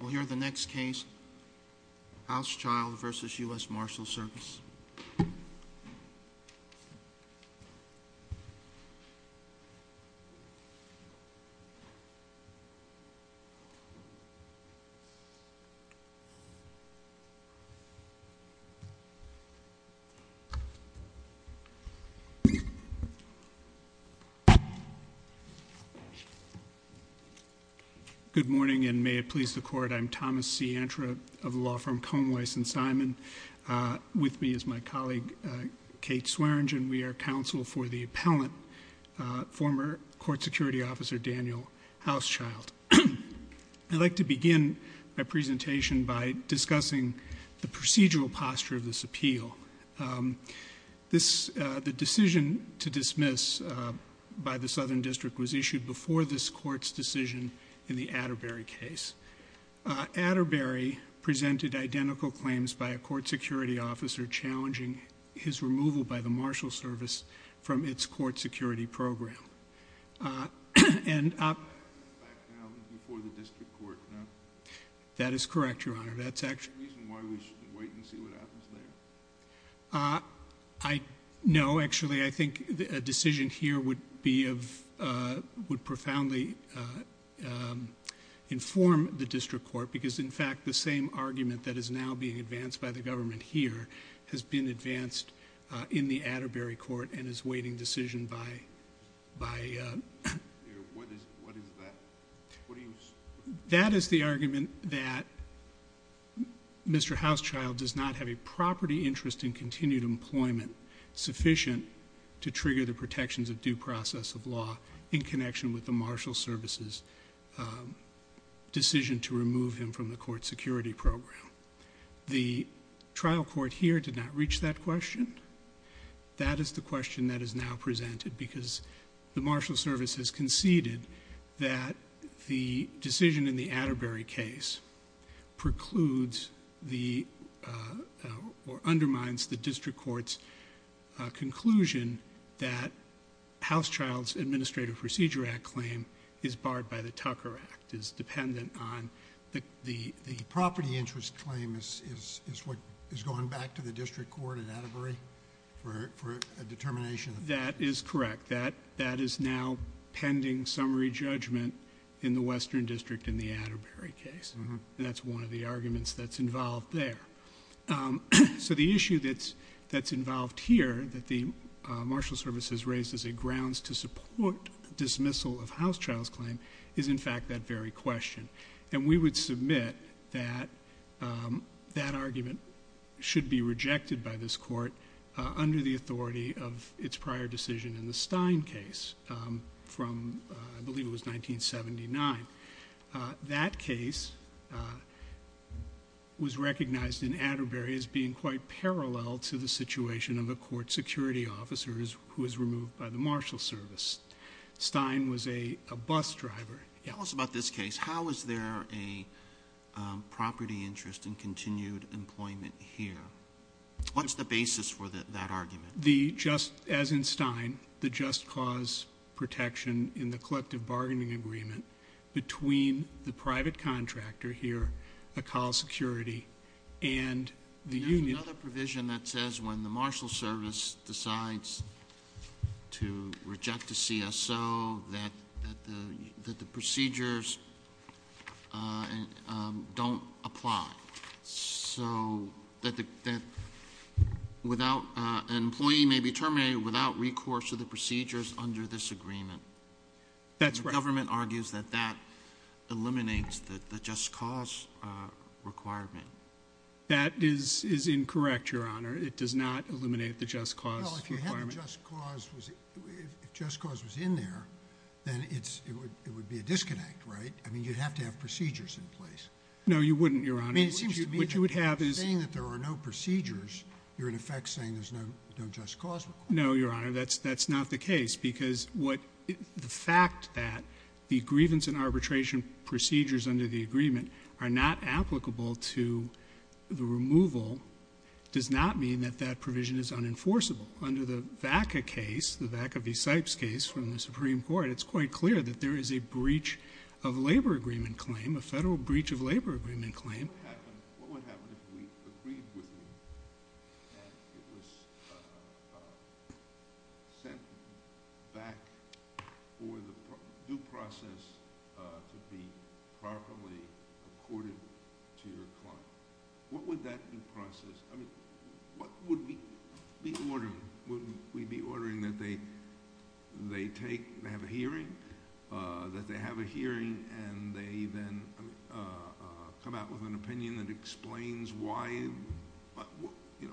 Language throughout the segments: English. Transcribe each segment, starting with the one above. We'll hear the next case, Housechild v. U.S. Marshals Service. Good morning, and may it please the court, I'm Thomas C. Antra of the law firm Cone Weiss & Simon. With me is my colleague Kate Swearingen. We are counsel for the appellant, former court security officer Daniel Housechild. I'd like to begin my presentation by discussing the procedural posture of this appeal. The decision to dismiss by the Southern District was issued before this court's decision in the Atterbury case. Atterbury presented identical claims by a court security officer challenging his removal by the Marshals Service from its court security program. That is correct, Your Honor. No, actually, I think a decision here would profoundly inform the district court because, in fact, the same argument that is now being advanced by the government here has been advanced in the Atterbury court and is waiting decision by... What is that? That is the argument that Mr. Housechild does not have a property interest in continued employment sufficient to trigger the protections of due process of law in connection with the Marshals Service's decision to remove him from the court security program. The trial court here did not reach that question. That is the question that is now presented because the Marshals Service has conceded that the decision in the Atterbury case precludes or undermines the district court's conclusion that Housechild's Administrative Procedure Act claim is barred by the Tucker Act, is interest claim is what is going back to the district court at Atterbury for a determination? That is correct. That is now pending summary judgment in the Western District in the Atterbury case. That is one of the arguments that is involved there. The issue that is involved here that the Marshals Service has raised as a grounds to support dismissal of Housechild's claim is, in fact, that very question. We would submit that that argument should be rejected by this court under the authority of its prior decision in the Stein case from I believe it was 1979. That case was recognized in Atterbury as being quite parallel to the situation of a court security officer who was removed by the Marshals Service. Stein was a bus driver. Tell us about this case. How is there a property interest in continued employment here? What is the basis for that argument? As in Stein, the just cause protection in the collective bargaining agreement between the private contractor here, the call security, and the union. There is another provision that says when the Marshals Service decides to reject the CSO that the procedures don't apply. So that an employee may be terminated without recourse to the procedures under this agreement. That's right. The government argues that that eliminates the just cause requirement. That is incorrect, Your Honor. It does not apply. If just cause was in there, then it would be a disconnect, right? I mean, you'd have to have procedures in place. No, you wouldn't, Your Honor. I mean, it seems to me that saying that there are no procedures, you're in effect saying there's no just cause required. No, Your Honor. That's not the case because the fact that the grievance and arbitration procedures under the agreement are not applicable to the removal does not mean that that provision is unenforceable. Under the VACA case, the VACA v. Sipes case from the Supreme Court, it's quite clear that there is a breach of labor agreement claim, a Federal breach of labor agreement claim. What would happen if we agreed with you that it was sent back for the due process to be properly accorded to your client? What would that due process... I mean, what would we be ordering? Would we be ordering that they have a hearing, that they have a hearing and they then come out with an opinion that explains why...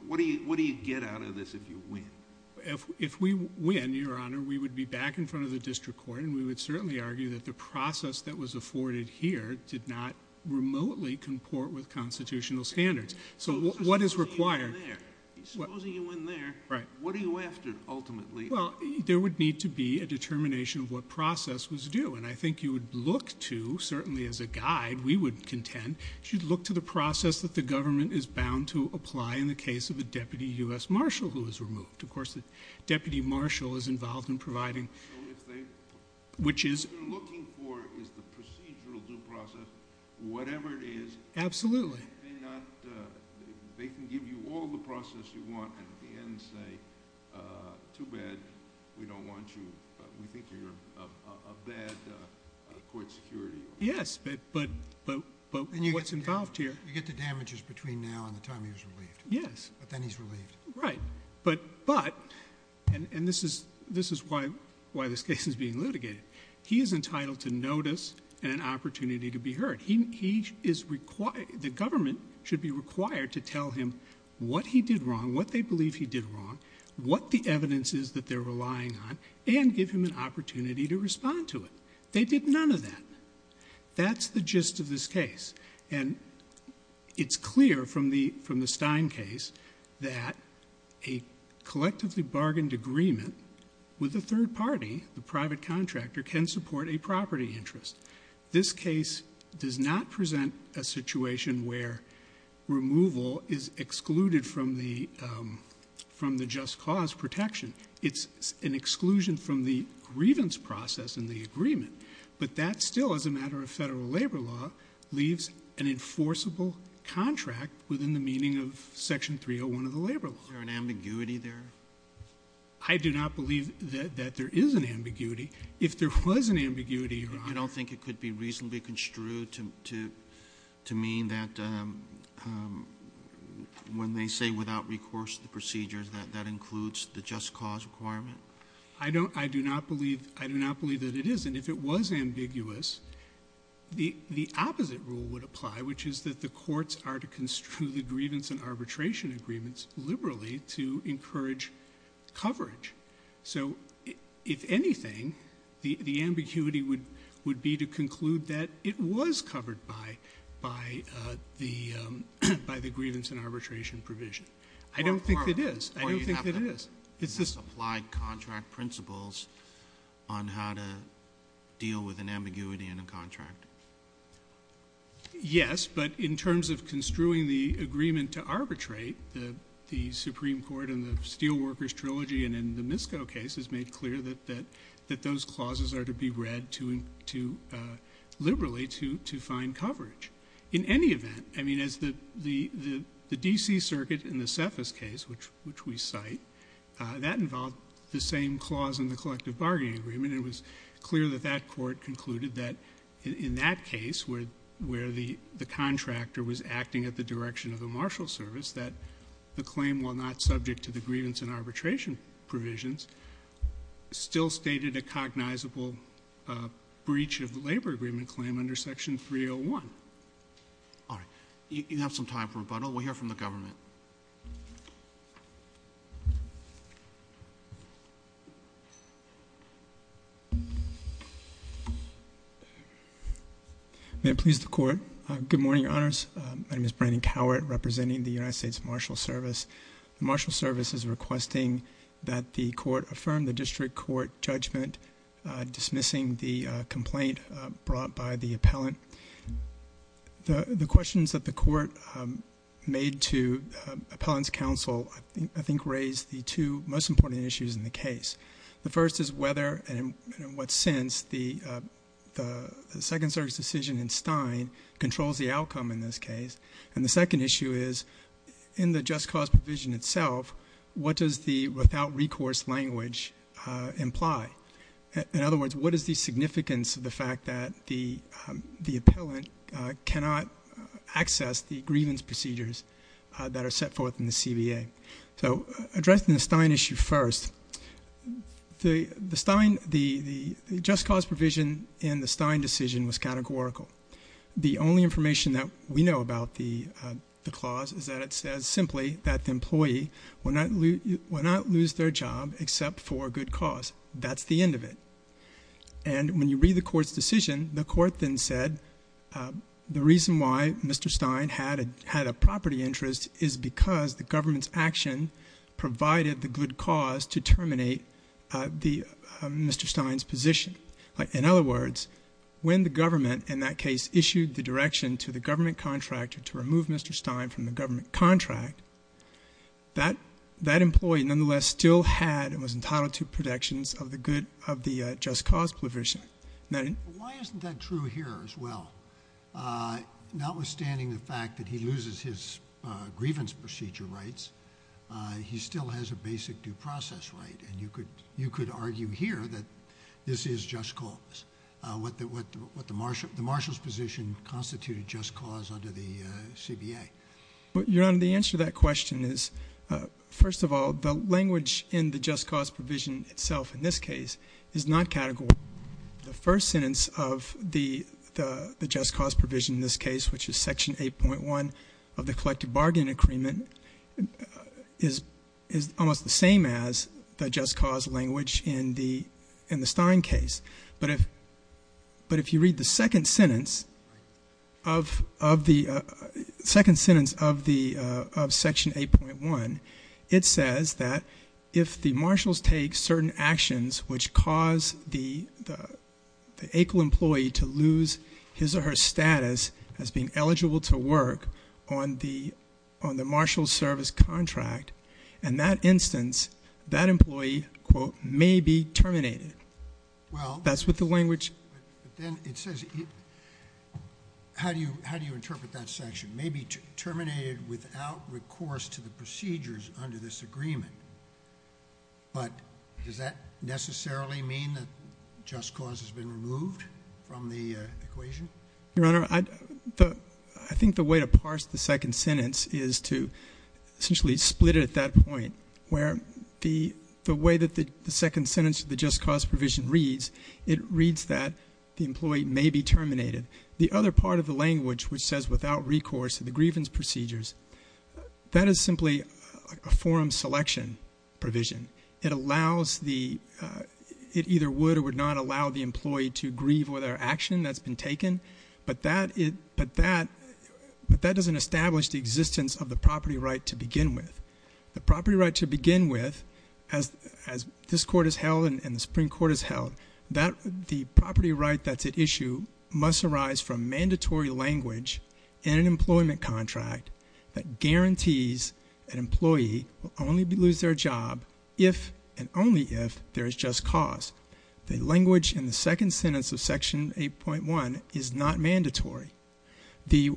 What do you get out of this if you win? If we win, Your Honor, we would be back in front of the district court and we would certainly argue that the process that was afforded here did not remotely comport with constitutional standards. What is required... Supposing you win there, what are you after, ultimately? There would need to be a determination of what process was due. I think you would look to, certainly as a guide, we would contend, you should look to the process that the government is bound to apply in the case of a Deputy U.S. Marshal who is removed. Of course, the process that you're looking for is the procedural due process. Whatever it is... Absolutely.... they can give you all the process you want and at the end say, too bad, we don't want you, we think you're a bad court security... Yes, but what's involved here... You get the damages between now and the time he was relieved. Yes. But then he's relieved. Right, but, and this is why this case is being litigated, he is entitled to notice and an opportunity to be heard. The government should be required to tell him what he did wrong, what they believe he did wrong, what the evidence is that they're relying on, and give him an opportunity to respond to it. They did none of that. That's the gist of this case. It's clear from the Stein case that a collectively bargained agreement with a third party, the private contractor, can support a property interest. This case does not present a situation where removal is excluded from the just cause protection. It's an exclusion from the grievance process in the agreement, but that still, as a matter of federal labor law, leaves an enforceable contract within the meaning of section 301 of the labor law. Is there an ambiguity there? I do not believe that there is an ambiguity. If there was an ambiguity, Your Honor... You don't think it could be reasonably construed to mean that when they say without recourse to the procedures, that that includes the just cause requirement? I do not believe that it is, and if it was ambiguous, the opposite rule would apply, which is that the courts are to construe the grievance and arbitration agreements liberally to encourage coverage. So, if anything, the ambiguity would be to conclude that it was covered by the grievance and arbitration provision. I don't think it is. I don't think it is. Or you have to apply contract principles on how to deal with an ambiguity in a contract. Yes, but in terms of construing the agreement to arbitrate, the Supreme Court in the Steelworkers Trilogy and in the Misko case has made clear that those clauses are to be read to... liberally to find coverage. In any event, I mean, as the D.C. Circuit in the Cephas case, which we cite, that involved the same clause in the collective bargaining agreement. It was clear that that court concluded that in that case, where the contractor was acting at the direction of the marshal service, that the claim, while not subject to the grievance and arbitration provisions, still stated a cognizable breach of the labor agreement claim under Section 301. All right. You have some time for rebuttal. We'll hear from the government. May it please the Court. Good morning, Your Honors. My name is Brandon Cowart, representing the United States Marshal Service. The marshal service is requesting that the Court affirm the district court judgment dismissing the complaint brought by the appellant. The questions that the Court made to appellant's counsel, I think, raise the two most important issues in the case. The first is whether and in what sense the Second Circuit's decision in Stein controls the outcome in this case. And the second issue is, in the just cause provision itself, what does the without recourse language imply? In other words, what is the significance of the fact that the appellant cannot access the grievance procedures that are set forth in the CBA? So addressing the Stein issue first, the Stein, the just cause provision in the Stein decision was categorical. The only information that we know about the clause is that it says simply that the employee will not lose their job except for good cause. That's the end of it. And when you read the Court's decision, the Court then said the reason why Mr. Stein had a property interest is because the government's action provided the good cause to terminate the Mr. Stein's position. In other words, when the government in that case issued the direction to the government contractor to remove Mr. Stein from the government contract, that employee nonetheless still had and was entitled to protections of the good, of the just cause provision. Why isn't that true here as well? Notwithstanding the fact that he loses his grievance procedure rights, he still has a basic due process right, and you could argue here that this is just cause, what the Marshal's position constituted just cause under the CBA. Your Honor, the answer to that question is, first of all, the language in the just cause provision itself in this case is not categorical. The first sentence of the just cause provision in this case, which is Section 8.1 of the Collective Bargain Agreement, is almost the same as the just cause language in the Stein case. But if you read the second sentence of Section 8.1, it says that if the Marshal's take certain actions which cause the equal employee to lose his or her status as being eligible to work on the Marshal's service contract, in that instance, that employee, quote, may be terminated. That's what the language says. The employee may be terminated without recourse to the procedures under this agreement. But does that necessarily mean that just cause has been removed from the equation? Your Honor, I think the way to parse the second sentence is to essentially split it at that point, where the way that the second sentence of the just cause provision reads, it reads that the employee may be terminated. The other part of the language which says without recourse to the grievance procedures, that is simply a forum selection provision. It either would or would not allow the employee to grieve over their action that's been taken, but that doesn't establish the existence of the property right to begin with. The property right to begin with, the property right that's at issue must arise from mandatory language in an employment contract that guarantees an employee will only lose their job if and only if there is just cause. The language in the second sentence of Section 8.1 is not mandatory. The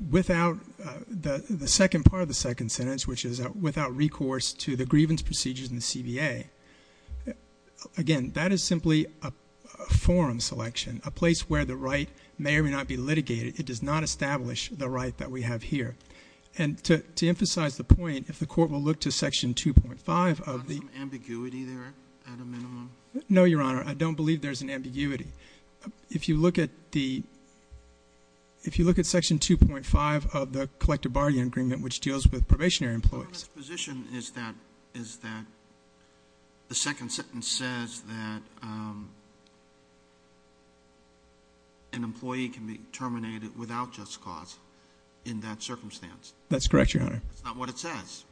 second part of the second sentence, which is without recourse to the grievance procedures in the situation, a place where the right may or may not be litigated, it does not establish the right that we have here. And to emphasize the point, if the Court will look to Section 2.5 of the... Is there some ambiguity there at a minimum? No, Your Honor. I don't believe there's an ambiguity. If you look at the, if you look at Section 2.5 of the Collective Bargaining Agreement, which deals with probationary employees... The second sentence says that an employee can be terminated without just cause in that circumstance. That's correct, Your Honor. That's not what it says.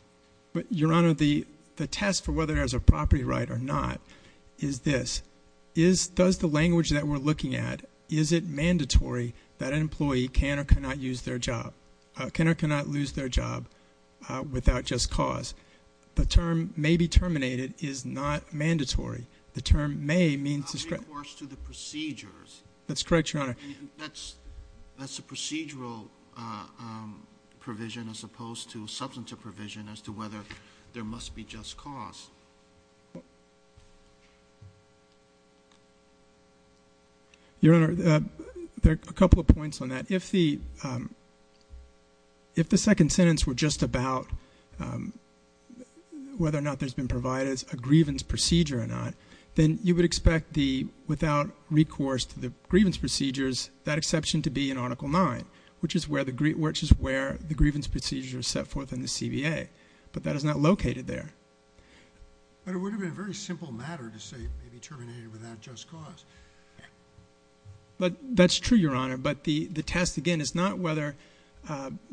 Your Honor, the test for whether there's a property right or not is this. Is, does the language that we're looking at, is it mandatory that an employee can or cannot use their job, can or cannot lose their job, without just cause? The term may be terminated is not mandatory. The term may means... Without recourse to the procedures. That's correct, Your Honor. That's a procedural provision as opposed to a substantive provision as to whether there must be just cause. Your Honor, there are a couple of points on that. If the, if the employee is terminated if the second sentence were just about whether or not there's been provided as a grievance procedure or not, then you would expect the, without recourse to the grievance procedures, that exception to be in Article 9, which is where the, which is where the grievance procedure is set forth in the CBA. But that is not located there. But it would have been a very simple matter to say it may be terminated without just cause. But that's true, Your Honor. But the, the test, again, is not whether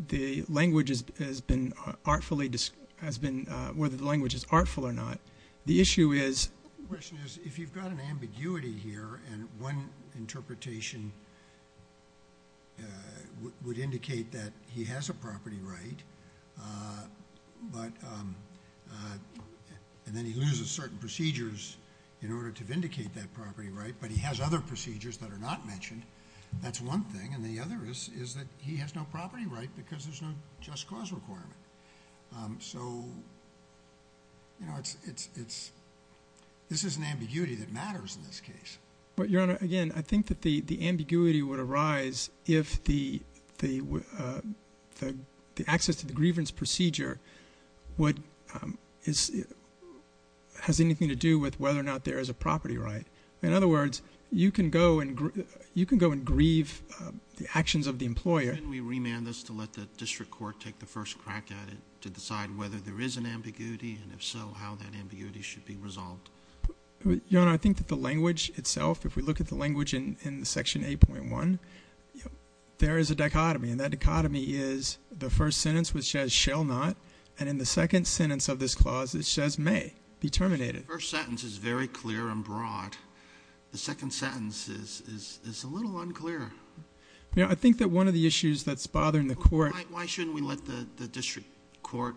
the language has been artfully, has been, whether the language is artful or not. The issue is... The question is, if you've got an ambiguity here and one interpretation would indicate that he has a property right, but, and then he loses certain procedures in order to vindicate that property right, but he has other procedures that are not mentioned, that's one thing. And the other is, is that he has no property right because there's no just cause requirement. So, you know, it's, it's, it's, this is an ambiguity that matters in this case. But, Your Honor, again, I think that the, the ambiguity would arise if the, the, the, the access to the grievance procedure would, is, has anything to do with whether or not there is a property right. In other words, you can go and grieve, you can go and grieve the actions of the employer. Can we remand this to let the district court take the first crack at it to decide whether there is an ambiguity, and if so, how that ambiguity should be resolved? Your Honor, I think that the language itself, if we look at the language in, in Section 8.1, there is a dichotomy, and that dichotomy is the first sentence which says shall not, and in the second sentence of this clause it says may be terminated. The first sentence is very clear and broad. The second sentence is, is, is a little unclear. You know, I think that one of the issues that's bothering the court. Why, why shouldn't we let the, the district court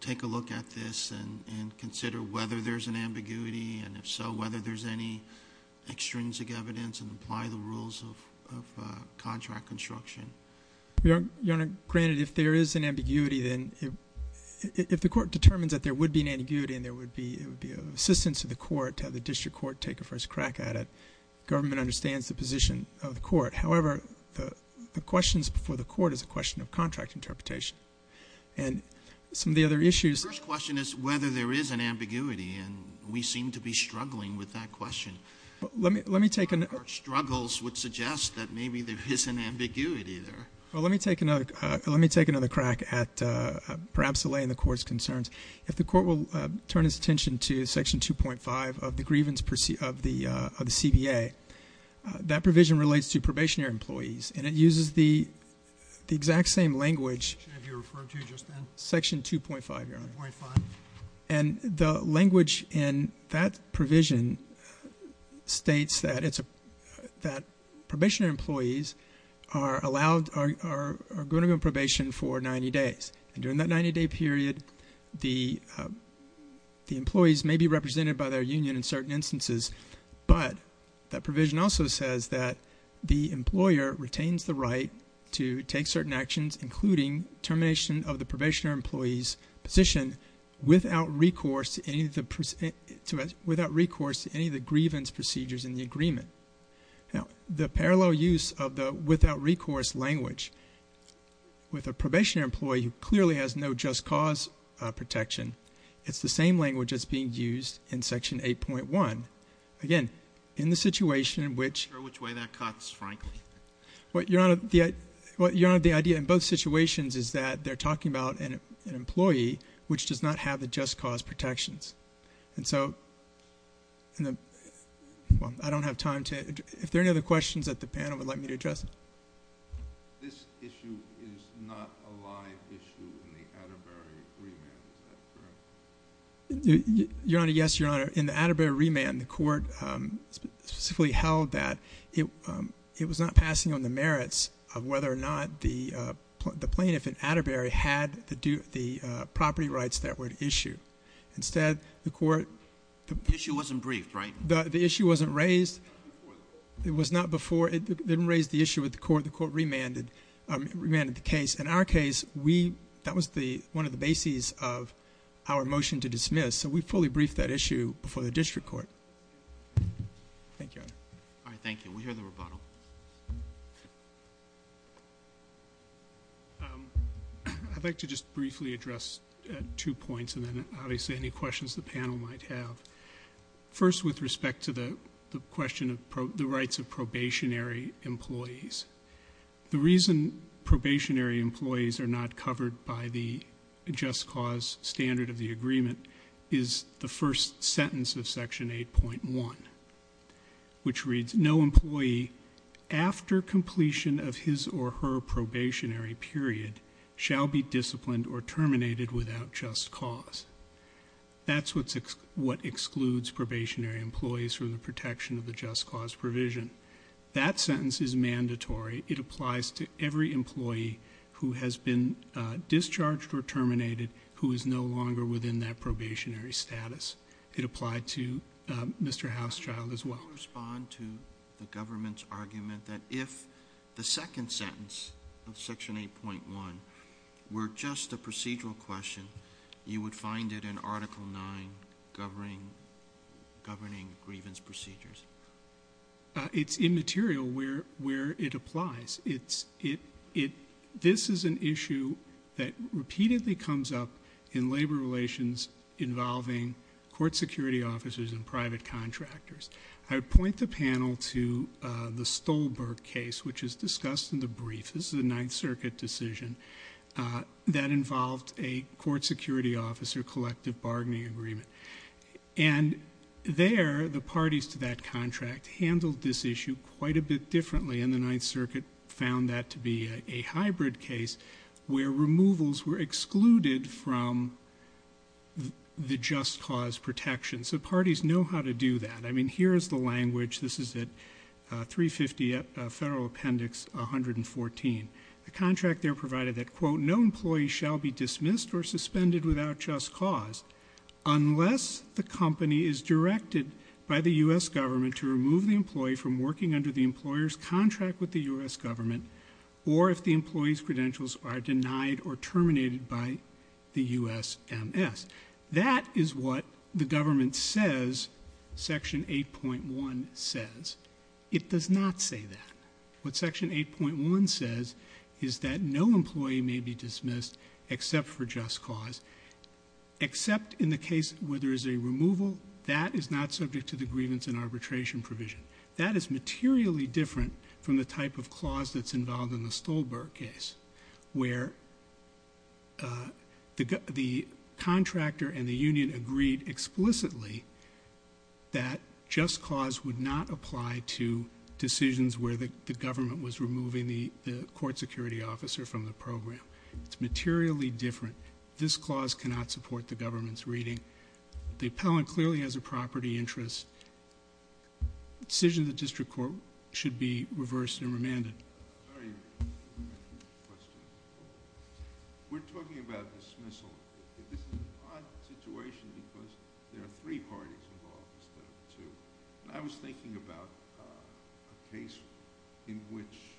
take a look at this and, and consider whether there's an ambiguity, and if so, whether there's any extrinsic evidence and apply the rules of, of contract construction? Your Honor, granted if there is an ambiguity, then if, if the court determines that there would be, it would be assistance of the court to have the district court take a first crack at it, government understands the position of the court. However, the, the questions before the court is a question of contract interpretation. And some of the other issues. The first question is whether there is an ambiguity, and we seem to be struggling with that question. Let me, let me take another. Our struggles would suggest that maybe there is an ambiguity there. Well, let me take another, let me take another crack at perhaps delaying the court's concerns. If the court will turn its attention to section 2.5 of the grievance of the, of the CBA, that provision relates to probationary employees, and it uses the, the exact same language. Should have you referred to just then. Section 2.5, Your Honor. 2.5. And the language in that provision states that it's a, that probationary employees are allowed, are, are going to be on probation for 90 days. And during that 90-day period, the, the employees may be represented by their union in certain instances. But that provision also says that the employer retains the right to take certain actions, including termination of the probationary employee's position without recourse to any of the, without recourse to any of the grievance procedures in the agreement. Now, the parallel use of the without recourse language with a probationary employee who clearly has no just cause protection, it's the same language that's being used in section 8.1. Again, in the situation in which. I'm not sure which way that cuts, frankly. What, Your Honor, the, what, Your Honor, the idea in both situations is that they're talking about an, an employee which does not have the just cause protections. And so, in the, well, I don't have time to, if there are any other questions that the panel would like me to address. This issue is not a live issue in the Atterbury remand, is that correct? Your Honor, yes, Your Honor. In the Atterbury remand, the court specifically held that it, it was not passing on the merits of whether or not the, the plaintiff in Atterbury had the due, the property rights that were at issue. Instead, the court. The issue wasn't briefed, right? The, the issue wasn't raised. It was not before, it didn't raise the issue with the court. The court remanded, remanded the case. In our case, we, that was the, one of the bases of our motion to dismiss. So, we fully briefed that issue before the district court. Thank you, Your Honor. All right, thank you. We hear the rebuttal. I'd like to just briefly address two points and then obviously any questions the panel might have. First, with respect to the, the question of the rights of probationary employees. The reason probationary employees are not covered by the just cause standard of the agreement is the first sentence of section 8.1. Which reads, no employee, after completion of his or her probationary period, shall be disciplined or terminated without just cause. That's what's, what excludes probationary employees from the protection of the just cause provision. That sentence is mandatory. It applies to every employee who has been discharged or terminated who is no longer within that probationary status. It applied to Mr. Hauschild as well. I'll respond to the government's argument that if the second sentence of section 8.1 were just a procedural question, you would find it in article 9 governing, governing grievance procedures. It's immaterial where, where it applies. It's, it, it, this is an issue that repeatedly comes up in labor relations involving court security officers and private contractors. I would point the panel to the Stolberg case, which is discussed in the brief. This is a Ninth Circuit decision that involved a court security officer collective bargaining agreement. And there, the parties to that contract handled this issue quite a bit differently. And the Ninth Circuit found that to be a hybrid case where removals were excluded from the just cause protection. So parties know how to do that. I mean, here is the language. This is at 350 Federal Appendix 114. The contract there provided that, quote, no employee shall be dismissed or suspended without just cause unless the company is directed by the U.S. government to remove the employee from working under the employer's contract with the U.S. government or if the employee's credentials are denied or terminated by the U.S. MS. That is what the government says, section 8.1 says. It does not say that. What section 8.1 says is that no employee may be dismissed except for just cause, except in the case where there is a removal. That is not subject to the grievance and arbitration provision. That is materially different from the type of clause that's involved in the Stolberg case where the contractor and the union agreed explicitly that just cause would not apply to decisions where the government was removing the court security officer from the program. It's materially different. This clause cannot support the government's reading. The appellant clearly has a property interest. The decision of the district court should be reversed and remanded. Very good question. We're talking about dismissal. This is an odd situation because there are three parties involved instead of two. I was thinking about a case in which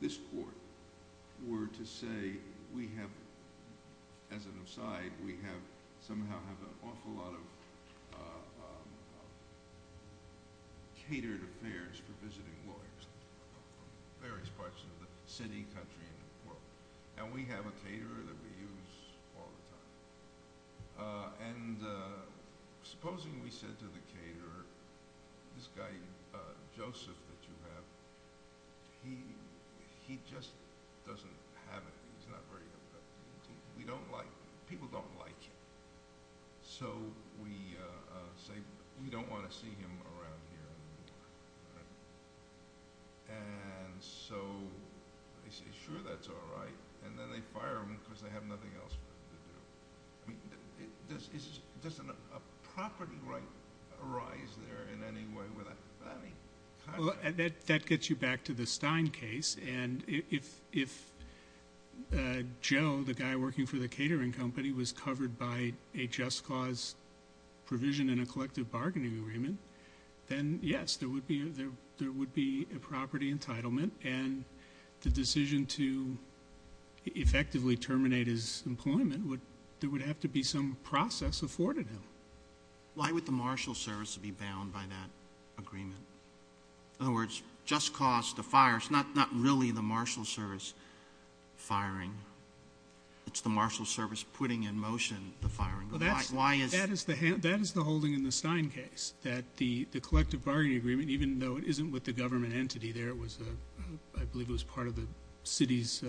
this court were to say, as an aside, we somehow have an awful lot of catered affairs for visiting lawyers from various parts of the city, country, and world. We have a caterer that we use all the time. Supposing we said to the caterer, this guy, Joseph, that you have, he just doesn't have it. He's not very good. People don't like him. So we say, we don't want to see him around here anymore. And so they say, sure, that's all right. And then they fire him because they have nothing else for him to do. Doesn't a property right arise there in any way with that? That gets you back to the Stein case. And if Joe, the guy working for the catering company, was covered by a just cause provision in a collective bargaining agreement, then, yes, there would be a property entitlement. And the decision to effectively terminate his employment, there would have to be some process afforded him. Why would the marshal service be bound by that agreement? In other words, just cause to fire, it's not really the marshal service firing. It's the marshal service putting in motion the firing. That is the holding in the Stein case, that the collective bargaining agreement, even though it isn't with the government entity there. I believe it was part of the city's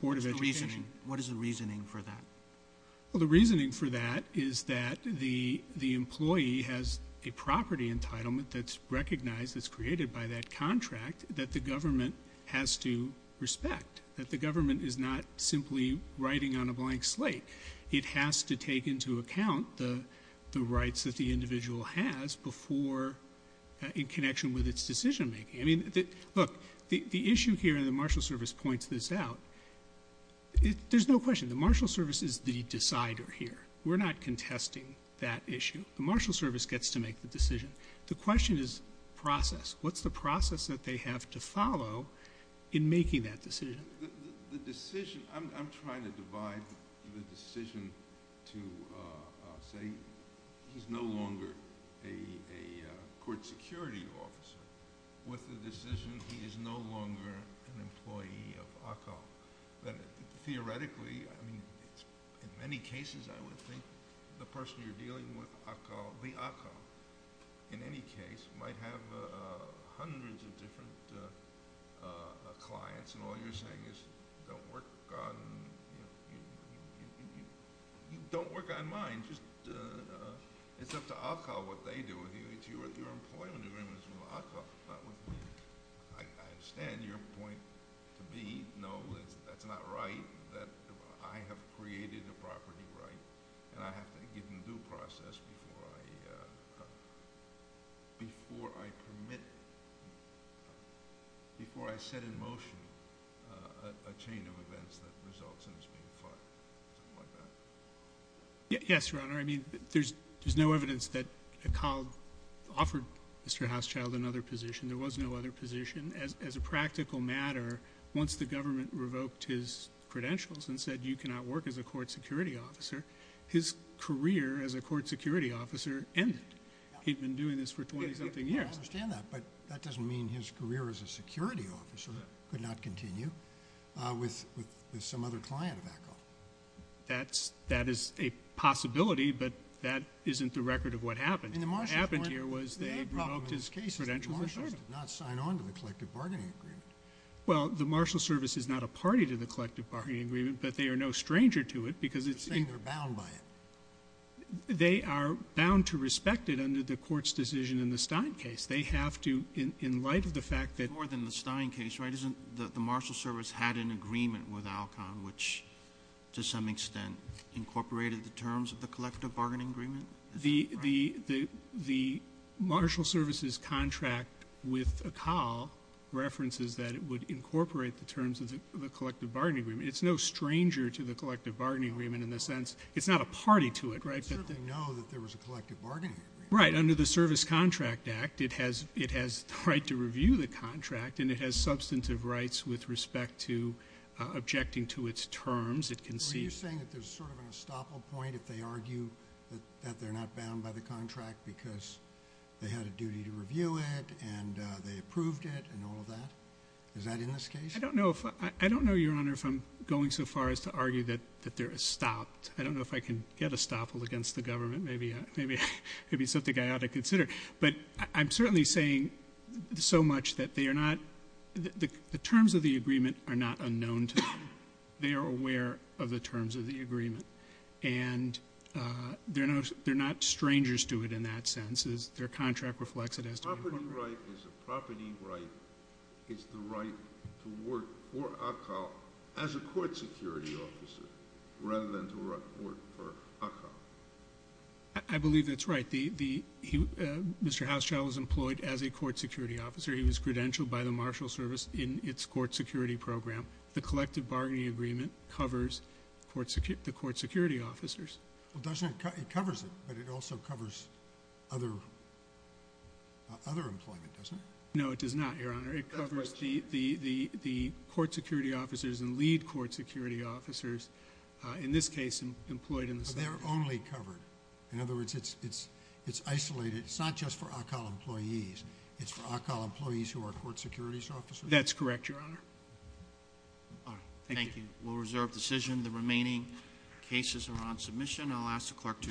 board of education. What is the reasoning for that? The reasoning for that is that the employee has a property entitlement that's recognized, that's created by that contract, that the government has to respect, that the government is not simply writing on a blank slate. It has to take into account the rights that the individual has before in connection with its decision making. I mean, look, the issue here, and the marshal service points this out, there's no question, the marshal service is the decider here. We're not contesting that issue. The marshal service gets to make the decision. The question is process. What's the process that they have to follow in making that decision? The decision, I'm trying to divide the decision to say he's no longer a court security officer with the decision he is no longer an employee of ACA. Theoretically, in many cases, I would think the person you're dealing with, the ACA, in any case, might have hundreds of different clients, and all you're saying is don't work on mine. It's up to ACA what they do with you. Your employment agreement is with ACA, not with me. I understand your point to me. No, that's not right. I have created a property right, and I have to give them due process before I permit, before I set in motion a chain of events that results in this being filed. Yes, Your Honor. There's no evidence that ACA offered Mr. Hauschild another position. There was no other position. As a practical matter, once the government revoked his credentials and said you cannot work as a court security officer, his career as a court security officer ended. He'd been doing this for 20-something years. I understand that, but that doesn't mean his career as a security officer could not continue with some other client of ACA. That is a possibility, but that isn't the record of what happened. What happened here was they revoked his credentials. The only problem with this case is the Marshalls did not sign on to the collective bargaining agreement. Well, the Marshalls Service is not a party to the collective bargaining agreement, but they are no stranger to it because it's in— You're saying they're bound by it. They are bound to respect it under the court's decision in the Stein case. They have to, in light of the fact that— The Marshalls Service had an agreement with ALCON, which to some extent incorporated the terms of the collective bargaining agreement. The Marshalls Service's contract with ACA references that it would incorporate the terms of the collective bargaining agreement. It's no stranger to the collective bargaining agreement in the sense it's not a party to it. But they know that there was a collective bargaining agreement. Right. Under the Service Contract Act, it has the right to review the contract and it has substantive rights with respect to objecting to its terms. Were you saying that there's sort of an estoppel point if they argue that they're not bound by the contract because they had a duty to review it and they approved it and all of that? Is that in this case? I don't know, Your Honor, if I'm going so far as to argue that they're estopped. I don't know if I can get estoppel against the government. Maybe it's something I ought to consider. But I'm certainly saying so much that they are not the terms of the agreement are not unknown to them. They are aware of the terms of the agreement. And they're not strangers to it in that sense. Their contract reflects it has to be incorporated. A property right is the right to work for ACA as a court security officer rather than to work for ACA. I believe that's right. Mr. Housechild was employed as a court security officer. He was credentialed by the Marshal Service in its court security program. The collective bargaining agreement covers the court security officers. It covers it, but it also covers other employment, doesn't it? No, it does not, Your Honor. It covers the court security officers and lead court security officers, in this case employed in the subcommittee. They're only covered. In other words, it's isolated. It's not just for ACA employees. It's for ACA employees who are court security officers. That's correct, Your Honor. All right. Thank you. We'll reserve decision. The remaining cases are on submission. I'll ask the clerk to adjourn. Court is adjourned.